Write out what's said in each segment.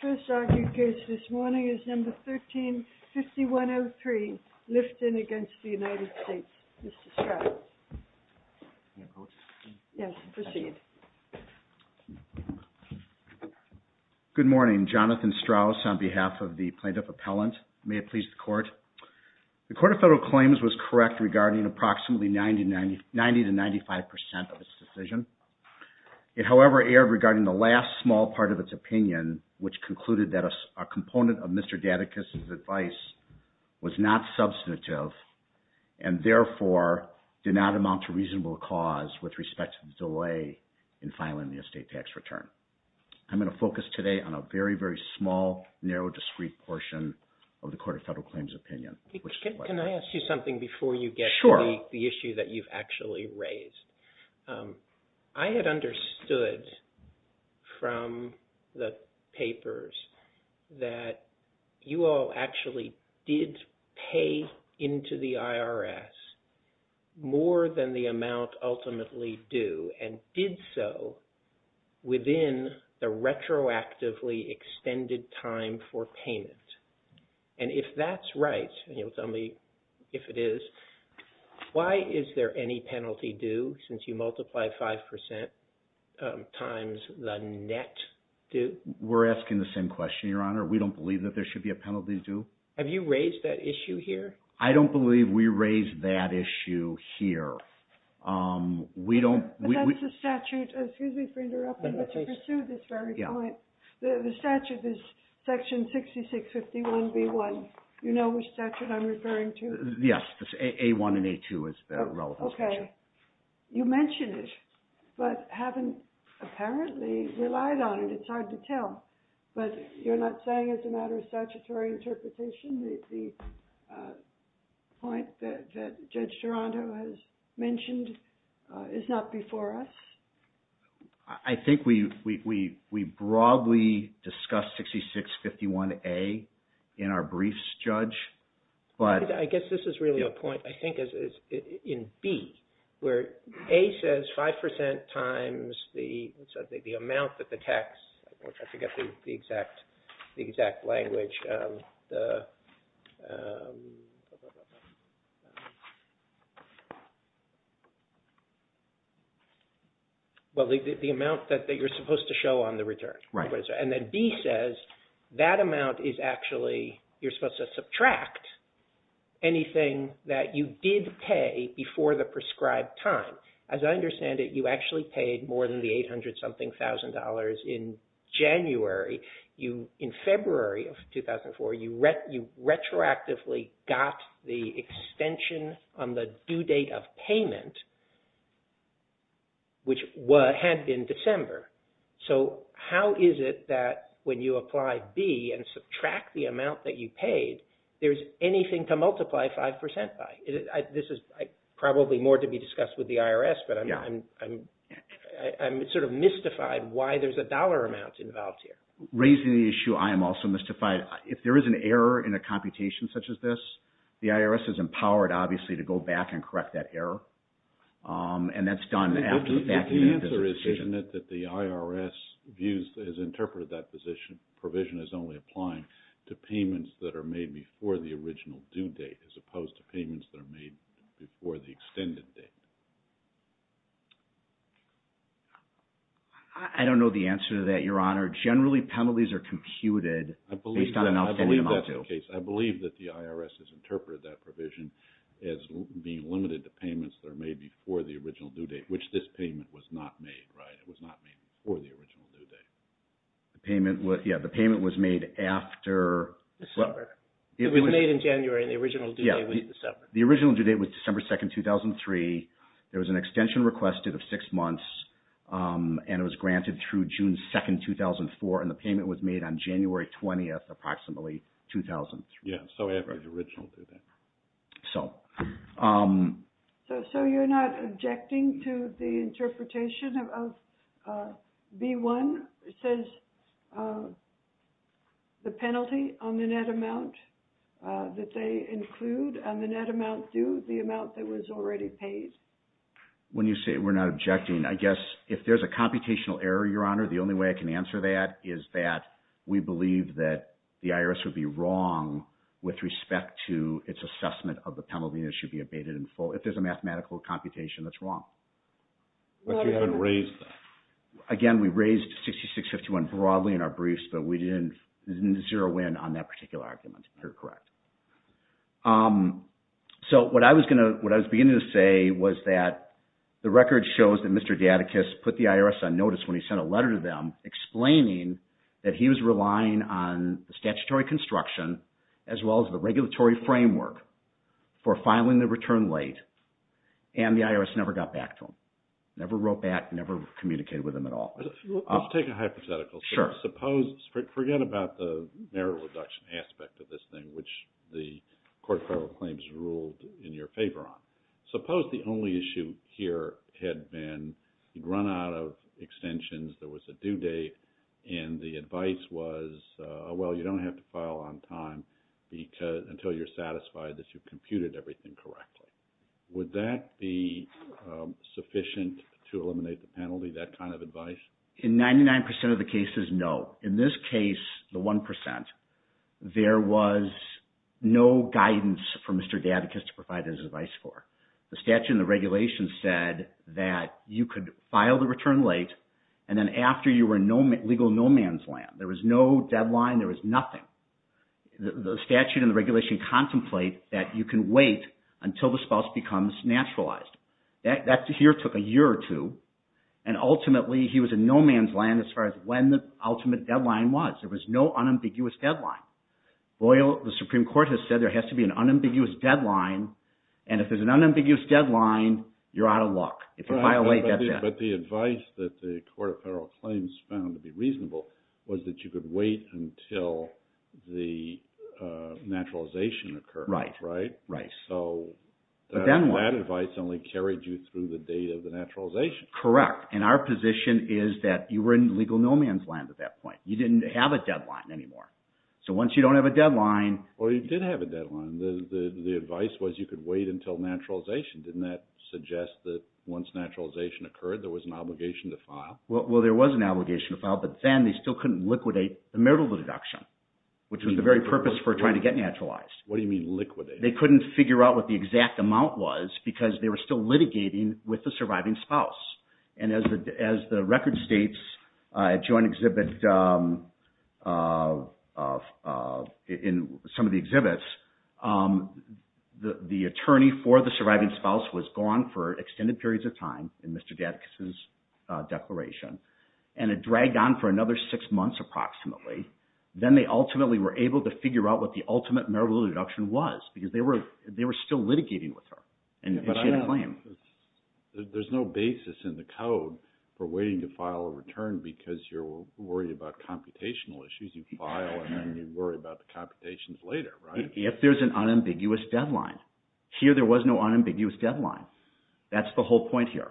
First argued case this morning is No. 13-5103, Lifton v. United States. Mr. Strauss. Yes, proceed. Good morning. Jonathan Strauss on behalf of the Plaintiff Appellant. May it please the Court. The Court of Federal Claims was correct regarding approximately 90-95% of its decision. It, however, erred regarding the last small part of its opinion, which concluded that a component of Mr. Datticus' advice was not substantive and, therefore, did not amount to reasonable cause with respect to the delay in filing the estate tax return. I'm going to focus today on a very, very small, narrow, discrete portion of the Court of Federal Claims' opinion. Can I ask you something before you get to the issue that you've actually raised? I had understood from the papers that you all actually did pay into the IRS more than the amount ultimately due, and did so within the retroactively extended time for payment. And if that's right, and you'll tell me if it is, why is there any penalty due since you multiply 5% times the net due? We're asking the same question, Your Honor. We don't believe that there should be a penalty due. Have you raised that issue here? I don't believe we raised that issue here. But that's the statute. Excuse me for interrupting, but to pursue this very point, the statute is section 6651B1. You know which statute I'm referring to? Yes. A1 and A2 is the relevant statute. Okay. You mentioned it, but haven't apparently relied on it. It's hard to tell. But you're not saying as a matter of statutory interpretation that the point that Judge Durando has mentioned is not before us? I think we broadly discussed 6651A in our briefs, Judge. I guess this is really a point, I think, in B, where A says 5% times the amount that the tax, I forget the exact language. Well, the amount that you're supposed to show on the return. And then B says that amount is actually, you're supposed to subtract anything that you did pay before the prescribed time. As I understand it, you actually paid more than the 800-something thousand dollars in January. In February of 2004, you retroactively got the extension on the due date of payment, which had been December. So how is it that when you apply B and subtract the amount that you paid, there's anything to multiply 5% by? This is probably more to be discussed with the IRS, but I'm sort of mystified why there's a dollar amount involved here. Raising the issue, I am also mystified. If there is an error in a computation such as this, the IRS is empowered, obviously, to go back and correct that error. And that's done after the fact. The answer is, isn't it, that the IRS views, has interpreted that provision as only applying to payments that are made before the original due date, as opposed to payments that are made before the extended date? I don't know the answer to that, Your Honor. Generally, penalties are computed based on an outstanding amount due. In my case, I believe that the IRS has interpreted that provision as being limited to payments that are made before the original due date, which this payment was not made, right? It was not made before the original due date. The payment was made after December. It was made in January, and the original due date was December. The original due date was December 2nd, 2003. There was an extension requested of six months, and it was granted through June 2nd, 2004, and the payment was made on January 20th, approximately, 2003. Yeah, so average original due date. So you're not objecting to the interpretation of B-1? It says the penalty on the net amount that they include on the net amount due, the amount that was already paid? When you say we're not objecting, I guess if there's a computational error, Your Honor, the only way I can answer that is that we believe that the IRS would be wrong with respect to its assessment of the penalty that should be abated in full. If there's a mathematical computation, that's wrong. But you haven't raised that. Again, we raised 6651 broadly in our briefs, but we didn't zero in on that particular argument. You're correct. So what I was beginning to say was that the record shows that Mr. Datticus put the IRS on notice when he sent a letter to them explaining that he was relying on the statutory construction as well as the regulatory framework for filing the return late, and the IRS never got back to him, never wrote back, never communicated with him at all. I'll take a hypothetical. Sure. Suppose – forget about the merit reduction aspect of this thing, which the Court of Federal Claims ruled in your favor on. Until you're satisfied that you've computed everything correctly. Would that be sufficient to eliminate the penalty, that kind of advice? In 99% of the cases, no. In this case, the 1%, there was no guidance for Mr. Datticus to provide his advice for. The statute and the regulations said that you could file the return late, and then after you were in legal no-man's land. There was no deadline. There was nothing. The statute and the regulation contemplate that you can wait until the spouse becomes naturalized. That here took a year or two, and ultimately he was in no-man's land as far as when the ultimate deadline was. There was no unambiguous deadline. The Supreme Court has said there has to be an unambiguous deadline, and if there's an unambiguous deadline, you're out of luck if you violate that deadline. The advice that the Court of Federal Claims found to be reasonable was that you could wait until the naturalization occurred. Right. That advice only carried you through the date of the naturalization. Correct. Our position is that you were in legal no-man's land at that point. You didn't have a deadline anymore. Once you don't have a deadline... You did have a deadline. The advice was you could wait until naturalization. Didn't that suggest that once naturalization occurred, there was an obligation to file? Well, there was an obligation to file, but then they still couldn't liquidate the marital deduction, which was the very purpose for trying to get naturalized. What do you mean liquidate? They couldn't figure out what the exact amount was because they were still litigating with the surviving spouse. As the record states, a joint exhibit in some of the exhibits, the attorney for the surviving spouse was gone for extended periods of time in Mr. Datticus's declaration, and it dragged on for another six months approximately. Then they ultimately were able to figure out what the ultimate marital deduction was because they were still litigating with her, and she had a claim. There's no basis in the code for waiting to file a return because you're worried about computational issues. You file, and then you worry about the computations later, right? If there's an unambiguous deadline. Here there was no unambiguous deadline. That's the whole point here.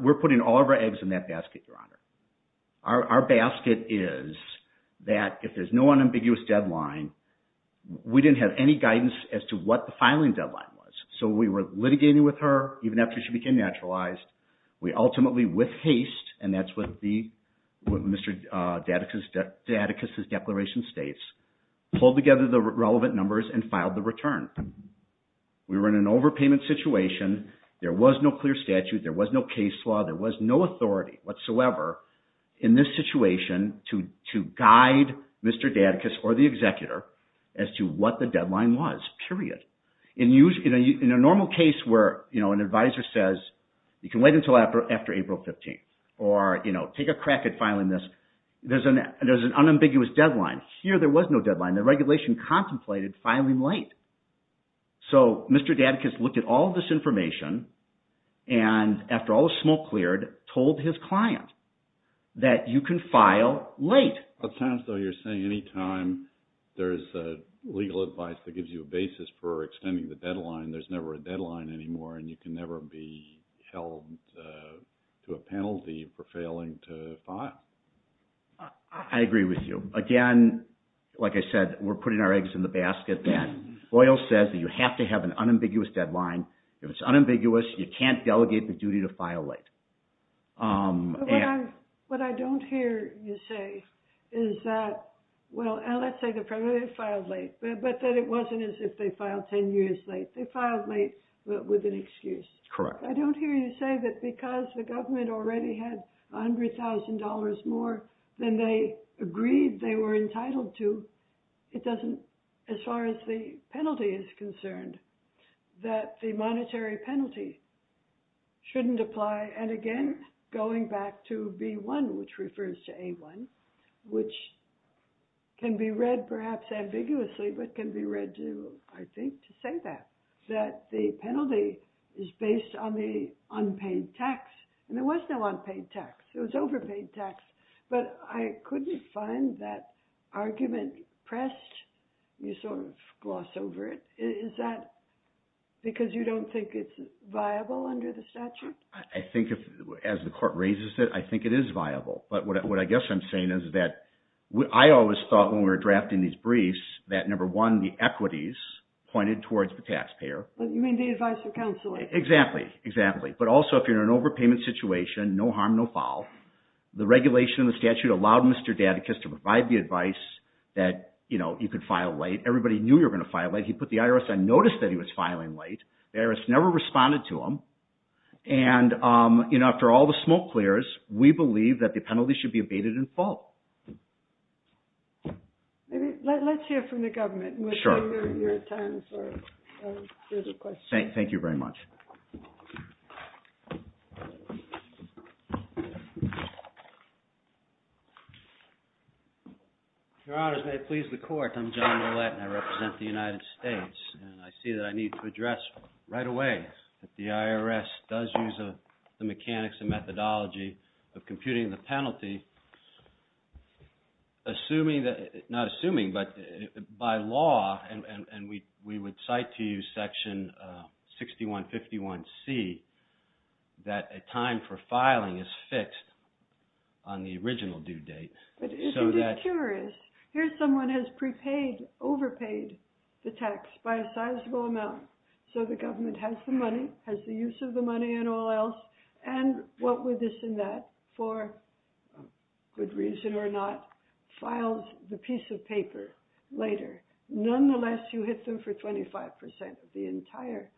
We're putting all of our eggs in that basket, Your Honor. Our basket is that if there's no unambiguous deadline, we didn't have any guidance as to what the filing deadline was. So we were litigating with her even after she became naturalized. We ultimately, with haste, and that's what Mr. Datticus's declaration states, pulled together the relevant numbers and filed the return. We were in an overpayment situation. There was no clear statute. There was no case law. There was no authority whatsoever in this situation to guide Mr. Datticus or the executor as to what the deadline was, period. In a normal case where an advisor says you can wait until after April 15th or take a crack at filing this, there's an unambiguous deadline. Here there was no deadline. The regulation contemplated filing late. So Mr. Datticus looked at all of this information and, after all was smoke cleared, told his client that you can file late. It sounds though you're saying any time there's legal advice that gives you a basis for extending the deadline, there's never a deadline anymore and you can never be held to a penalty for failing to file. I agree with you. Again, like I said, we're putting our eggs in the basket then. Boyle says that you have to have an unambiguous deadline. If it's unambiguous, you can't delegate the duty to file late. What I don't hear you say is that, well, let's say they filed late, but that it wasn't as if they filed 10 years late. They filed late with an excuse. Correct. I don't hear you say that because the government already had $100,000 more than they agreed they were entitled to, it doesn't, as far as the penalty is concerned, that the monetary penalty shouldn't apply. Again, going back to B1, which refers to A1, which can be read perhaps ambiguously, but can be read, I think, to say that the penalty is based on the unpaid tax. There was no unpaid tax. It was overpaid tax, but I couldn't find that argument pressed. You sort of gloss over it. Is that because you don't think it's viable under the statute? I think, as the court raises it, I think it is viable. But what I guess I'm saying is that I always thought when we were drafting these briefs that, number one, the equities pointed towards the taxpayer. You mean the advice of counsel? Exactly. Exactly. But also, if you're in an overpayment situation, no harm, no foul. The regulation in the statute allowed Mr. Dadakis to provide the advice that you could file late. Everybody knew you were going to file late. He put the IRS on notice that he was filing late. The IRS never responded to him. And after all the smoke clears, we believe that the penalty should be abated in full. Let's hear from the government. Sure. Thank you very much. Your honors, may it please the court. I'm John Millett, and I represent the United States. And I see that I need to address right away that the IRS does use the mechanics and methodology of computing the penalty. Not assuming, but by law, and we would cite to you section 6151C, that a time for filing is fixed on the original due date. But isn't it curious? Here someone has prepaid, overpaid the tax by a sizable amount. So the government has the money, has the use of the money and all else. And what with this and that, for good reason or not, files the piece of paper later. Nonetheless, you hit them for 25% of the entire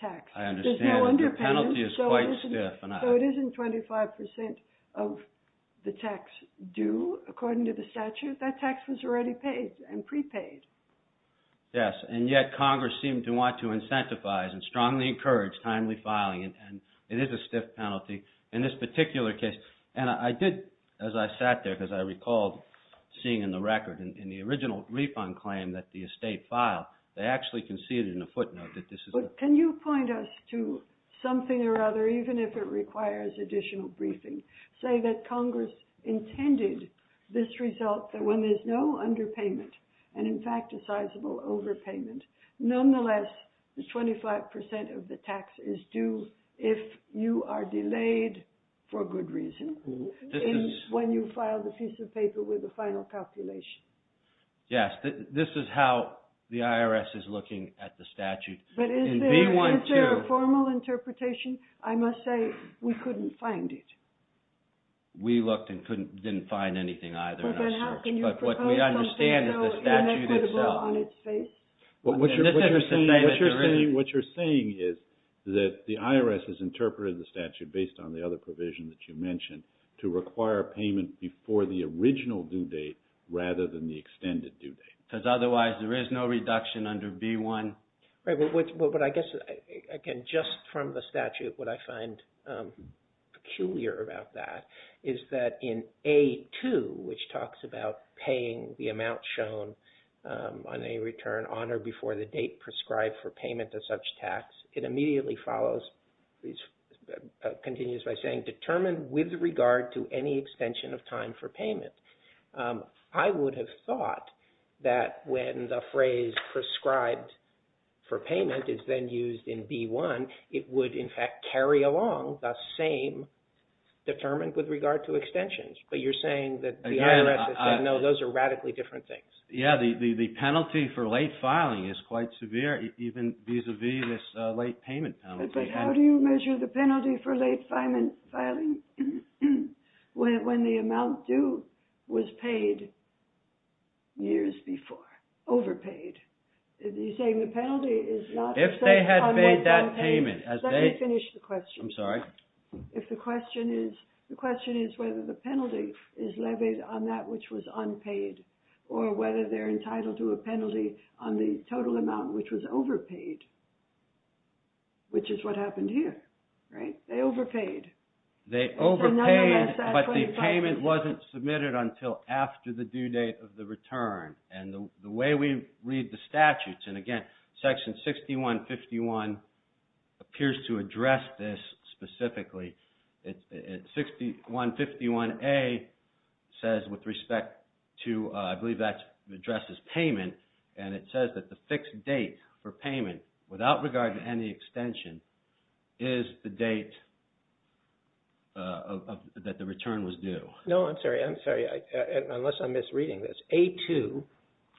tax. I understand. There's no underpayment. The penalty is quite stiff. So it isn't 25% of the tax due, according to the statute. That tax was already paid and prepaid. Yes, and yet Congress seemed to want to incentivize and strongly encourage timely filing. And it is a stiff penalty in this particular case. And I did, as I sat there, because I recalled seeing in the record, in the original refund claim that the estate filed, they actually conceded in a footnote that this is a… But can you point us to something or other, even if it requires additional briefing, say that Congress intended this result that when there's no underpayment, and in fact a sizable overpayment, nonetheless, 25% of the tax is due if you are delayed for good reason when you file the piece of paper with a final calculation. Yes, this is how the IRS is looking at the statute. But is there a formal interpretation? I must say we couldn't find it. We looked and didn't find anything either. But what we understand is the statute itself. What you're saying is that the IRS has interpreted the statute based on the other provision that you mentioned to require payment before the original due date rather than the extended due date. Because otherwise there is no reduction under B-1. But I guess, again, just from the statute, what I find peculiar about that is that in A-2, which talks about paying the amount shown on a return on or before the date prescribed for payment of such tax, it immediately follows, continues by saying, determined with regard to any extension of time for payment. I would have thought that when the phrase prescribed for payment is then used in B-1, it would, in fact, carry along the same determined with regard to extensions. But you're saying that the IRS has said, no, those are radically different things. Yes, the penalty for late filing is quite severe even vis-à-vis this late payment penalty. But how do you measure the penalty for late filing when the amount due was paid years before, overpaid? You're saying the penalty is not... If they had made that payment... Let me finish the question. I'm sorry. If the question is, the question is whether the penalty is levied on that which was unpaid or whether they're entitled to a penalty on the total amount which was overpaid, which is what happened here, right? They overpaid. They overpaid, but the payment wasn't submitted until after the due date of the return. And the way we read the statutes, and again, Section 6151 appears to address this specifically. It's 6151A says with respect to, I believe that addresses payment, and it says that the fixed date for payment without regard to any extension is the date that the return was due. No, I'm sorry. I'm sorry. Unless I'm misreading this. A2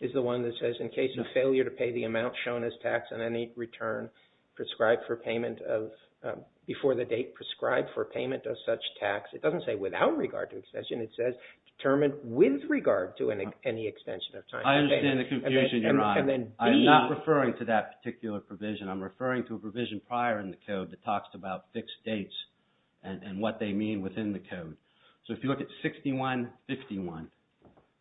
is the one that says in case of failure to pay the amount shown as tax on any return prescribed for payment of, before the date prescribed for payment of such tax, it doesn't say without regard to extension. It says determined with regard to any extension of time. I understand the confusion, Your Honor. And then B... I'm not referring to that particular provision. I'm referring to a provision prior in the code that talks about fixed dates and what they mean within the code. So if you look at 6151,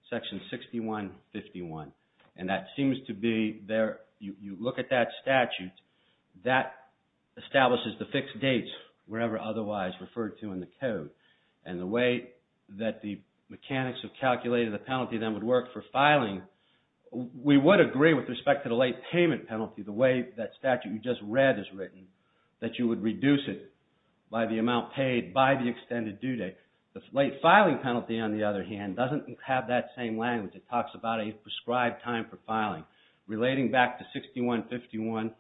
Section 6151, and that seems to be there. You look at that statute. That establishes the fixed dates wherever otherwise referred to in the code. And the way that the mechanics have calculated the penalty that would work for filing, we would agree with respect to the late payment penalty the way that statute you just read is written, that you would reduce it by the amount paid by the extended due date. The late filing penalty, on the other hand, doesn't have that same language. It talks about a prescribed time for filing. Relating back to 6151,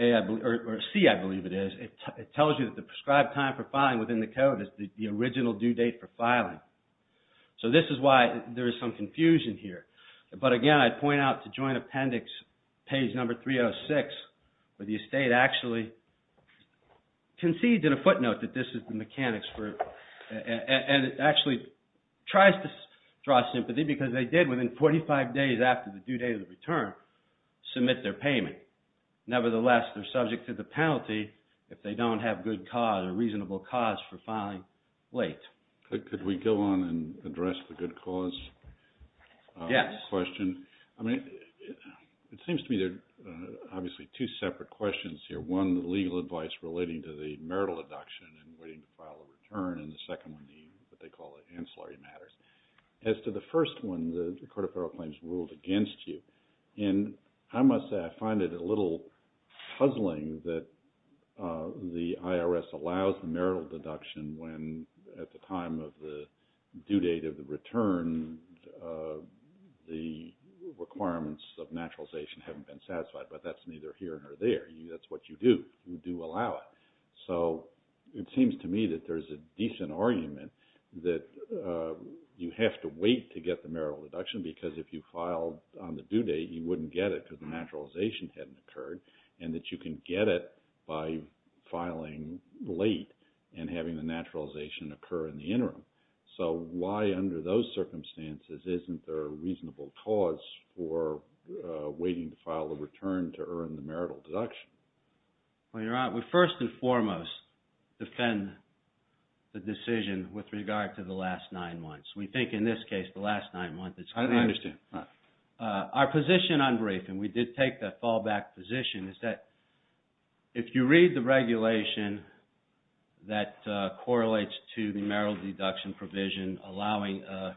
or C, I believe it is, it tells you that the prescribed time for filing within the code is the original due date for filing. So this is why there is some confusion here. But again, I'd point out to Joint Appendix, page number 306, where the estate actually concedes in a footnote that this is the mechanics for it. And it actually tries to draw sympathy because they did, within 45 days after the due date of the return, submit their payment. Nevertheless, they're subject to the penalty if they don't have good cause or reasonable cause for filing late. Could we go on and address the good cause question? Yes. I mean, it seems to me there are obviously two separate questions here. One, the legal advice relating to the marital deduction and waiting to file a return, and the second one being what they call the ancillary matters. As to the first one, the Court of Federal Claims ruled against you. And I must say I find it a little puzzling that the IRS allows the marital deduction when at the time of the due date of the return the requirements of naturalization haven't been satisfied. But that's neither here nor there. That's what you do. You do allow it. So it seems to me that there's a decent argument that you have to wait to get the marital deduction because if you filed on the due date, you wouldn't get it because the naturalization hadn't occurred, and that you can get it by filing late and having the naturalization occur in the interim. So why under those circumstances isn't there a reasonable cause for waiting to file a return to earn the marital deduction? Well, Your Honor, we first and foremost defend the decision with regard to the last nine months. We think in this case the last nine months is correct. I understand. Our position on briefing, we did take the fallback position, is that if you read the regulation that correlates to the marital deduction provision allowing a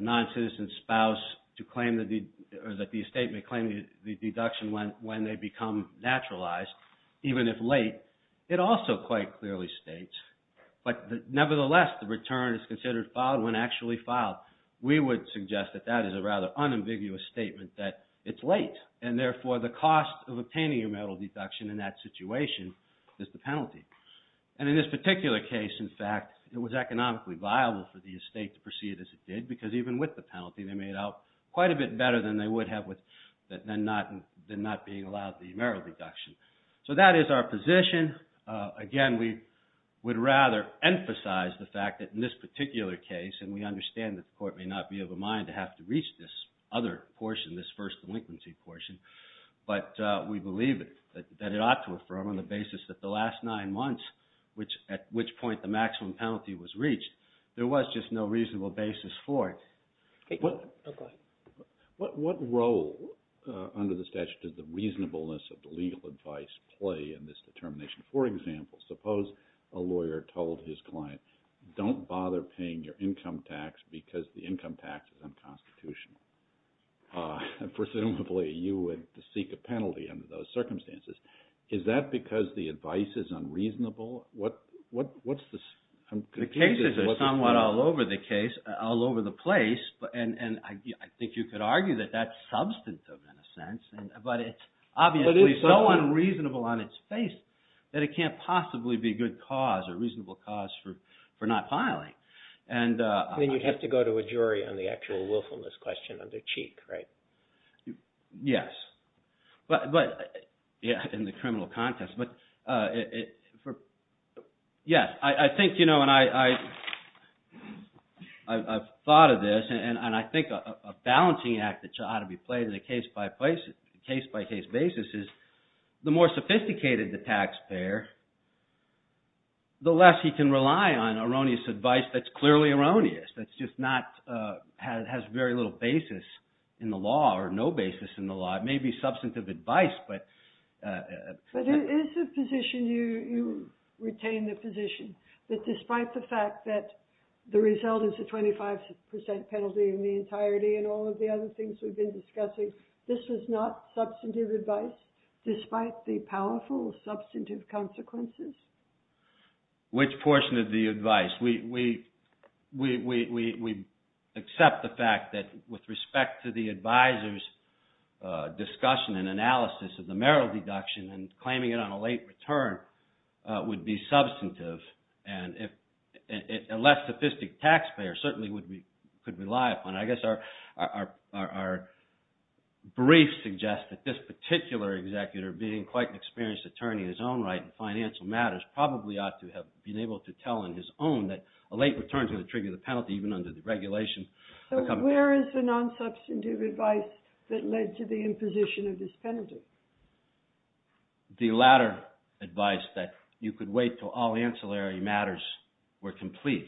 non-citizen spouse to claim that the estate may claim the deduction when they become naturalized, even if late, it also quite clearly states. But nevertheless, the return is considered filed when actually filed. We would suggest that that is a rather unambiguous statement that it's late, and therefore the cost of obtaining a marital deduction in that situation is the penalty. And in this particular case, in fact, it was economically viable for the estate to proceed as it did because even with the penalty, they made out quite a bit better than they would have than not being allowed the marital deduction. So that is our position. Again, we would rather emphasize the fact that in this particular case, and we understand that the court may not be of a mind to have to reach this other portion, this first delinquency portion, but we believe that it ought to affirm on the basis that the last nine months, at which point the maximum penalty was reached, there was just no reasonable basis for it. What role under the statute does the reasonableness of the legal advice play in this determination? For example, suppose a lawyer told his client, don't bother paying your income tax because the income tax is unconstitutional. Presumably, you would seek a penalty under those circumstances. Is that because the advice is unreasonable? The cases are somewhat all over the place, and I think you could argue that that's substantive in a sense, but it's obviously so unreasonable on its face that it can't possibly be a good cause or reasonable cause for not filing. Then you'd have to go to a jury on the actual willfulness question under cheek, right? Yes, but in the criminal context, yes. I think, you know, and I've thought of this, and I think a balancing act that ought to be played on a case-by-case basis is the more sophisticated the taxpayer, the less he can rely on erroneous advice that's clearly erroneous, that's just not, has very little basis in the law or no basis in the law. It may be substantive advice, but... But is the position you retain the position that despite the fact that the result is a 25% penalty in the entirety and all of the other things we've been discussing, this is not substantive advice despite the powerful substantive consequences? Which portion of the advice? We accept the fact that with respect to the advisor's discussion and analysis of the Merrill deduction and claiming it on a late return would be substantive, and a less sophisticated taxpayer certainly could rely upon it. I guess our brief suggests that this particular executor, being quite an experienced attorney in his own right in financial matters, probably ought to have been able to tell on his own that a late return is going to trigger the penalty even under the regulations. So where is the non-substantive advice that led to the imposition of this penalty? The latter advice that you could wait until all ancillary matters were complete.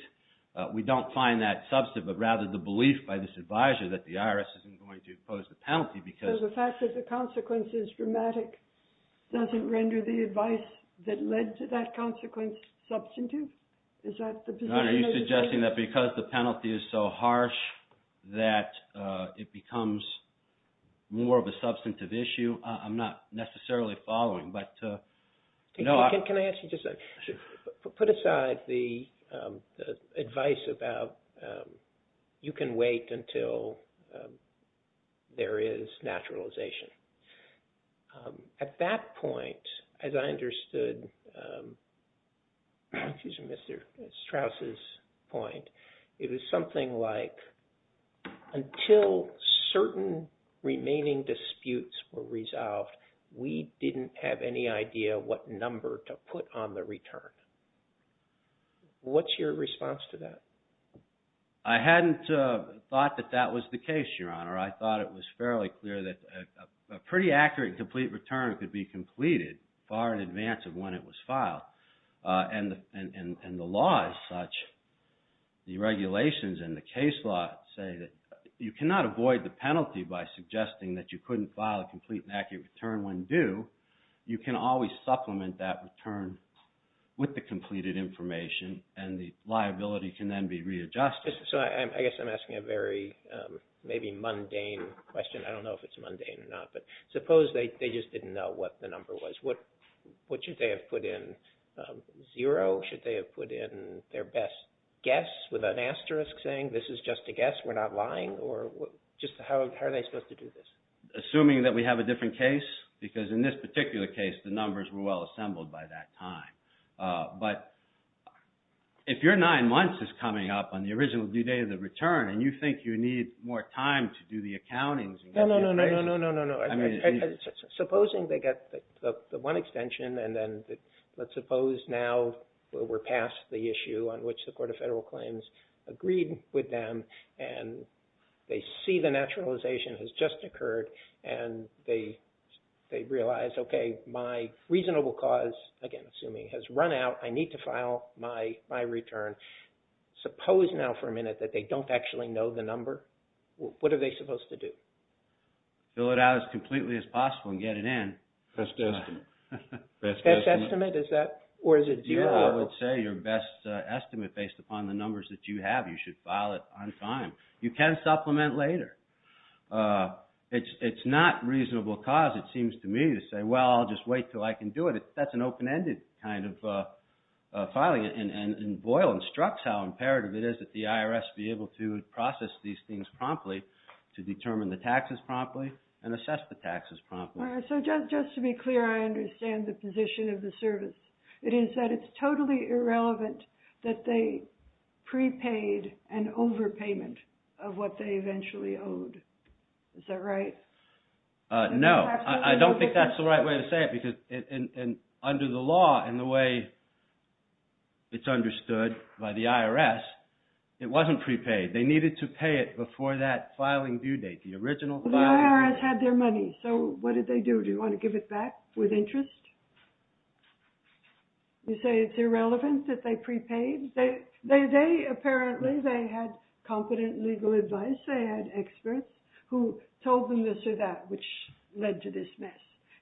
We don't find that substantive, but rather the belief by this advisor that the IRS isn't going to impose the penalty because... So the fact that the consequence is dramatic doesn't render the advice that led to that consequence substantive? Is that the position? Are you suggesting that because the penalty is so harsh that it becomes more of a substantive issue? I'm not necessarily following, but... Can I actually just put aside the advice about you can wait until there is naturalization? At that point, as I understood Mr. Strauss's point, it was something like until certain remaining disputes were resolved, we didn't have any idea what number to put on the return. What's your response to that? I hadn't thought that that was the case, Your Honor. I thought it was fairly clear that a pretty accurate complete return could be completed far in advance of when it was filed. And the law is such, the regulations and the case law say that you cannot avoid the penalty by suggesting that you couldn't file a complete and accurate return when due. You can always supplement that return with the completed information, and the liability can then be readjusted. So I guess I'm asking a very maybe mundane question. I don't know if it's mundane or not, but suppose they just didn't know what the number was. What should they have put in? Zero? Should they have put in their best guess with an asterisk saying, this is just a guess, we're not lying? Or just how are they supposed to do this? Assuming that we have a different case, because in this particular case, the numbers were well assembled by that time. But if your nine months is coming up on the original due date of the return, and you think you need more time to do the accountings... No, no, no, no, no, no, no, no. Supposing they get the one extension, and then let's suppose now we're past the issue on which the Court of Federal Claims agreed with them, and they see the naturalization has just occurred, and they realize, okay, my reasonable cause, again assuming, has run out, I need to file my return. Suppose now for a minute that they don't actually know the number. What are they supposed to do? Fill it out as completely as possible and get it in. Best estimate. Best estimate? Or is it zero? I would say your best estimate based upon the numbers that you have, you should file it on time. You can supplement later. It's not reasonable cause, it seems to me, to say, well, I'll just wait until I can do it. That's an open-ended kind of filing. Boyle instructs how imperative it is that the IRS be able to process these things promptly, to determine the taxes promptly, and assess the taxes promptly. All right, so just to be clear, I understand the position of the service. It is that it's totally irrelevant that they prepaid an overpayment of what they eventually owed. Is that right? No. I don't think that's the right way to say it because under the law and the way it's understood by the IRS, it wasn't prepaid. They needed to pay it before that filing due date, the original filing. The IRS had their money, so what did they do? Do you want to give it back with interest? You say it's irrelevant that they prepaid? Apparently, they had competent legal advice. They had experts who told them this or that, which led to this mess.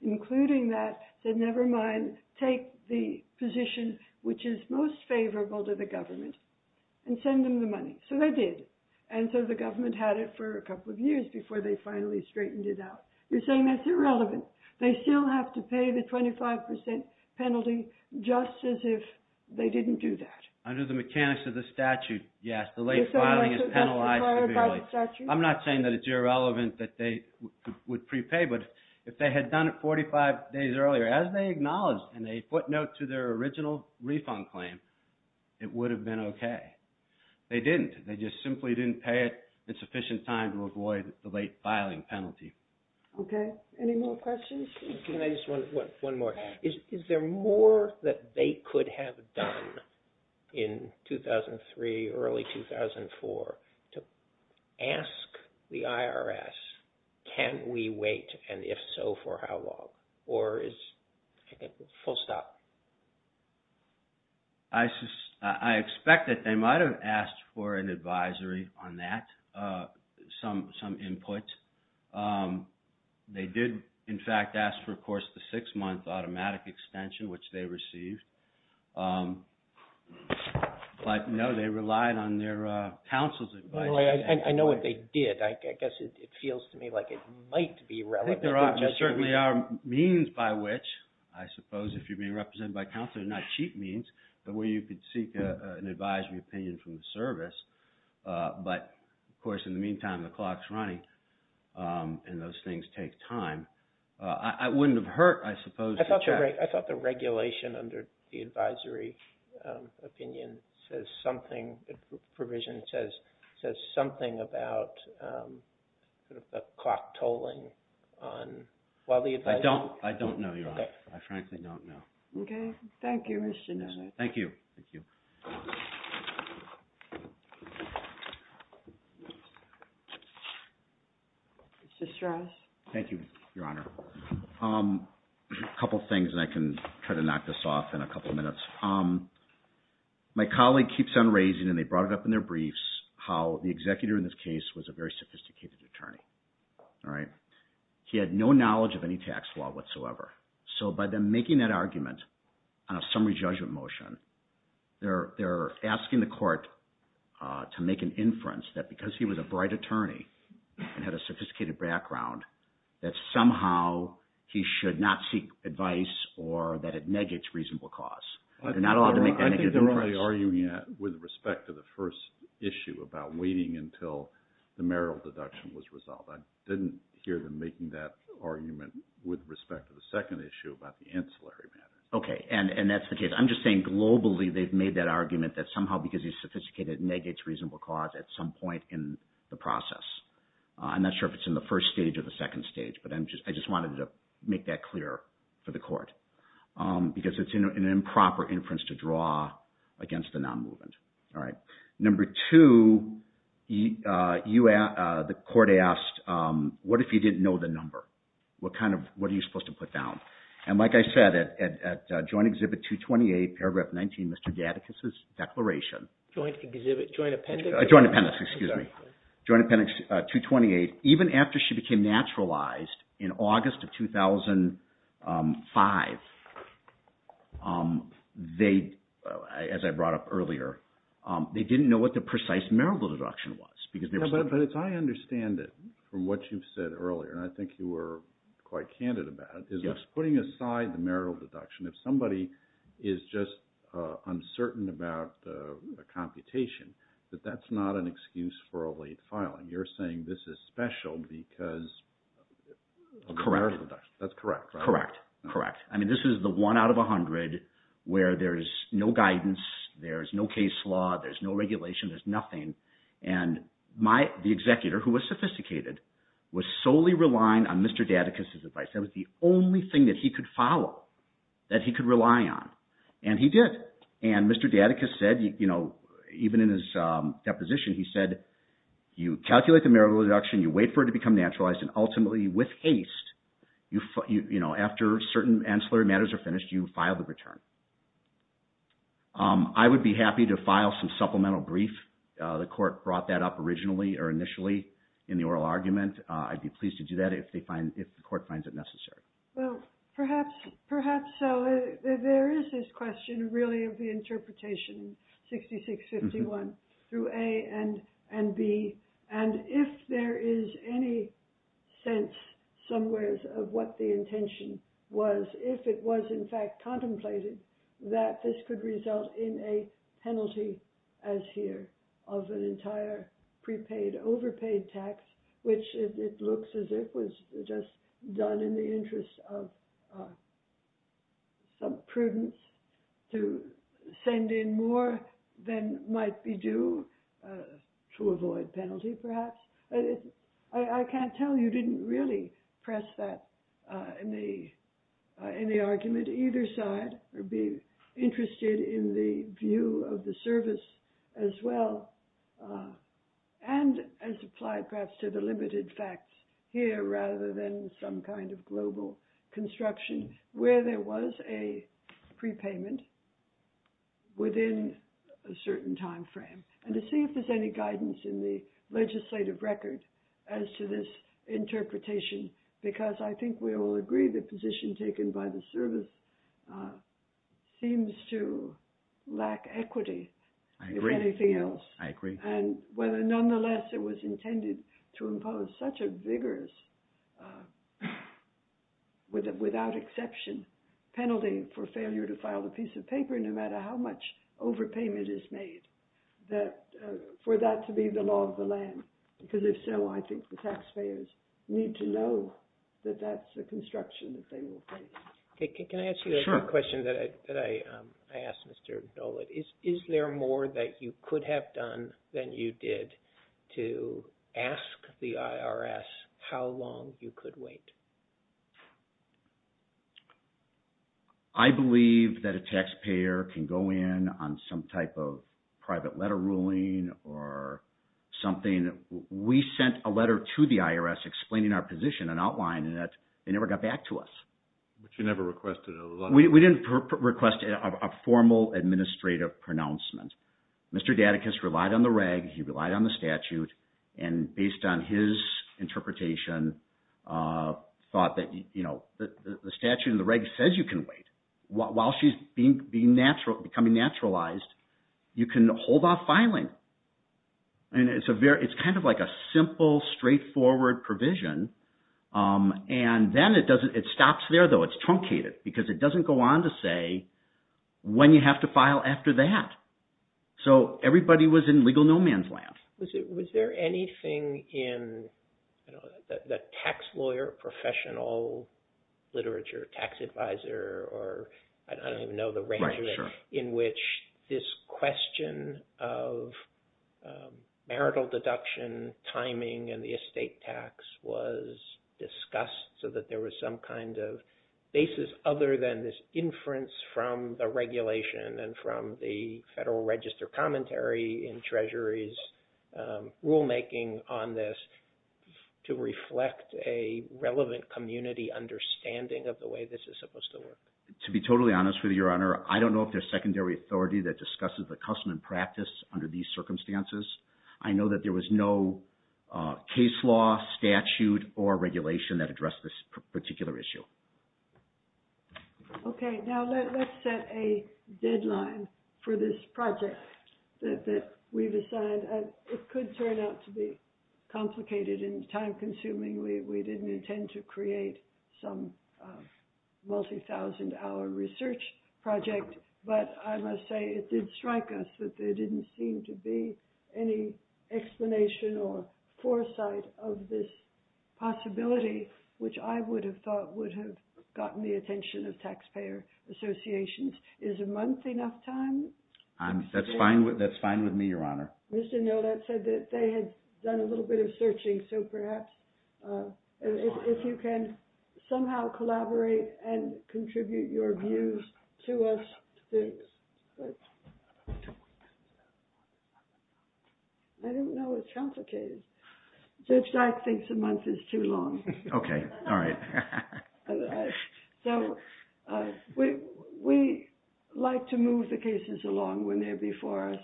Including that, said, never mind. Take the position which is most favorable to the government and send them the money. So they did. And so the government had it for a couple of years before they finally straightened it out. You're saying that's irrelevant. They still have to pay the 25% penalty just as if they didn't do that. Under the mechanics of the statute, yes. The late filing is penalized severely. I'm not saying that it's irrelevant that they would prepay. But if they had done it 45 days earlier, as they acknowledged and they put note to their original refund claim, it would have been okay. They didn't. They just simply didn't pay it in sufficient time to avoid the late filing penalty. Okay. Any more questions? Can I just, one more. Is there more that they could have done in 2003, early 2004 to ask the IRS, can we wait? And if so, for how long? Or is it full stop? I expect that they might have asked for an advisory on that, some input. They did, in fact, ask for, of course, the six-month automatic extension, which they received. But no, they relied on their counsel's advice. I know what they did. I guess it feels to me like it might be relevant. There certainly are means by which, I suppose if you're being represented by counsel, not cheap means, the way you could seek an advisory opinion from the service. But, of course, in the meantime, the clock's running, and those things take time. I wouldn't have hurt, I suppose, to check. I thought the regulation under the advisory opinion says something, the provision says something about a clock tolling on, while the advisory. I don't know, Your Honor. Okay. I frankly don't know. Okay. Thank you. Thank you. Thank you. Mr. Strauss. Thank you, Your Honor. A couple things, and I can try to knock this off in a couple minutes. My colleague keeps on raising, and they brought it up in their briefs, how the executor in this case was a very sophisticated attorney. All right? He had no knowledge of any tax law whatsoever. So by them making that argument on a summary judgment motion, they're asking the court to make an inference that because he was a bright attorney and had a sophisticated background, that somehow he should not seek advice or that it negates reasonable cause. They're not allowed to make that negative inference. I think they're probably arguing that with respect to the first issue about waiting until the marital deduction was resolved. I didn't hear them making that argument with respect to the second issue about the ancillary mandate. Okay. And that's the case. I'm just saying globally they've made that argument that somehow because he's sophisticated, it negates reasonable cause at some point in the process. I'm not sure if it's in the first stage or the second stage, but I just wanted to make that clear for the court because it's an improper inference to draw against a non-movement. All right? Number two, the court asked, what if he didn't know the number? What are you supposed to put down? And like I said, at Joint Exhibit 228, paragraph 19, Mr. Gatticus's declaration… Joint Exhibit? Joint Appendix? Joint Appendix, excuse me. Joint Appendix 228. Even after she became naturalized in August of 2005, as I brought up earlier, they didn't know what the precise marital deduction was because… But as I understand it from what you've said earlier, and I think you were quite candid about it, is putting aside the marital deduction, if somebody is just uncertain about the computation, that that's not an excuse for a late filing. You're saying this is special because of the marital deduction. Correct. That's correct, right? Correct, correct. I mean, this is the one out of a hundred where there's no guidance, there's no case law, there's no regulation, there's nothing. And the executor, who was sophisticated, was solely relying on Mr. Gatticus's advice. That was the only thing that he could follow, that he could rely on, and he did. And Mr. Gatticus said, even in his deposition, he said, you calculate the marital deduction, you wait for it to become naturalized, and ultimately, with haste, after certain ancillary matters are finished, you file the return. I would be happy to file some supplemental brief. The court brought that up originally or initially in the oral argument. I'd be pleased to do that if the court finds it necessary. Well, perhaps so. There is this question, really, of the interpretation, 66-51, through A and B. And if there is any sense, somewheres, of what the intention was, if it was, in fact, contemplated, that this could result in a penalty, as here, of an entire prepaid, overpaid tax, which it looks as if it was just done in the interest of some prudence, to send in more than might be due, to avoid penalty, perhaps. I can't tell you didn't really press that in the argument, either side. I'd be interested in the view of the service, as well, and as applied, perhaps, to the limited facts here, rather than some kind of global construction, where there was a prepayment within a certain time frame. And to see if there's any guidance in the legislative record as to this interpretation, because I think we all agree the position taken by the service seems to lack equity, if anything else. I agree. I agree. And nonetheless, it was intended to impose such a vigorous, without exception, penalty for failure to file a piece of paper, no matter how much overpayment is made, for that to be the law of the land. Because if so, I think the taxpayers need to know that that's the construction that they will face. Can I ask you a question that I asked Mr. Dolit? Is there more that you could have done than you did to ask the IRS how long you could wait? I believe that a taxpayer can go in on some type of private letter ruling or something. We sent a letter to the IRS explaining our position and outlining it. They never got back to us. But you never requested a letter? We didn't request a formal administrative pronouncement. Mr. Datticus relied on the reg. He relied on the statute. And based on his interpretation, thought that the statute and the reg says you can wait. While she's becoming naturalized, you can hold off filing. And it's kind of like a simple, straightforward provision. And then it stops there, though. It's truncated because it doesn't go on to say when you have to file after that. So everybody was in legal no man's land. Was there anything in the tax lawyer professional literature, tax advisor, or I don't even know the range, in which this question of marital deduction timing and the estate tax was discussed so that there was some kind of basis other than this inference from the regulation and from the Federal Register commentary in Treasury's rulemaking on this to reflect a relevant community understanding of the way this is supposed to work? To be totally honest with you, Your Honor, I don't know if there's secondary authority that discusses the custom and practice under these circumstances. I know that there was no case law, statute, or regulation that addressed this particular issue. Okay, now let's set a deadline for this project that we've assigned. It could turn out to be complicated and time-consuming. We didn't intend to create some multi-thousand-hour research project. But I must say it did strike us that there didn't seem to be any explanation or foresight of this possibility, which I would have thought would have gotten the attention of taxpayer associations. Is a month enough time? That's fine with me, Your Honor. Mr. Nolet said that they had done a little bit of searching. So perhaps if you can somehow collaborate and contribute your views to us. I don't know, it's complicated. Judge Dyke thinks a month is too long. Okay, all right. So we like to move the cases along when they're before us.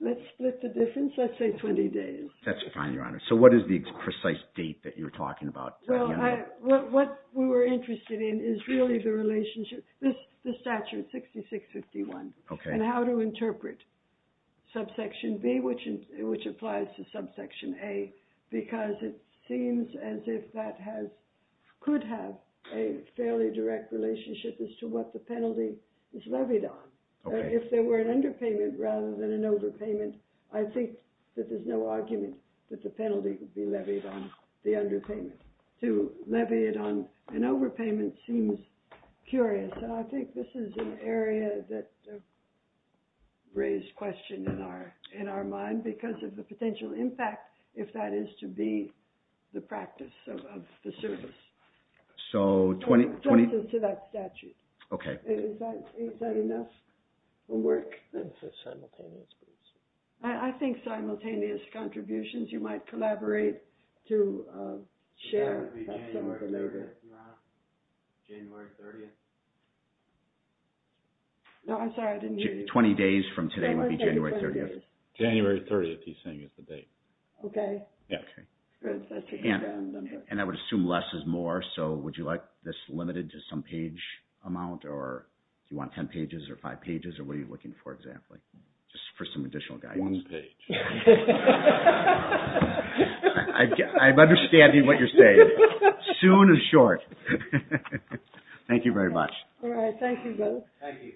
Let's split the difference. Let's say 20 days. That's fine, Your Honor. So what is the precise date that you're talking about? Well, what we were interested in is really the relationship. The statute, 6651. Okay. And how to interpret subsection B, which applies to subsection A, because it seems as if that could have a fairly direct relationship as to what the penalty is levied on. If there were an underpayment rather than an overpayment, I think that there's no argument that the penalty could be levied on the underpayment. To levy it on an overpayment seems curious. So I think this is an area that raised question in our mind because of the potential impact, if that is to be the practice of the service. So 20 to that statute. Okay. Is that enough? We'll work simultaneously. I think simultaneous contributions, you might collaborate to share. That would be January 30th, Your Honor. January 30th. No, I'm sorry. I didn't hear you. 20 days from today would be January 30th. January 30th, he's saying is the date. Okay. Yeah. Good. And I would assume less is more, so would you like this limited to some page amount, or do you want 10 pages or five pages, or what are you looking for, exactly? Just for some additional guidance. One page. I'm understanding what you're saying. Soon is short. Thank you very much. All right. Thank you, Bill. Thank you.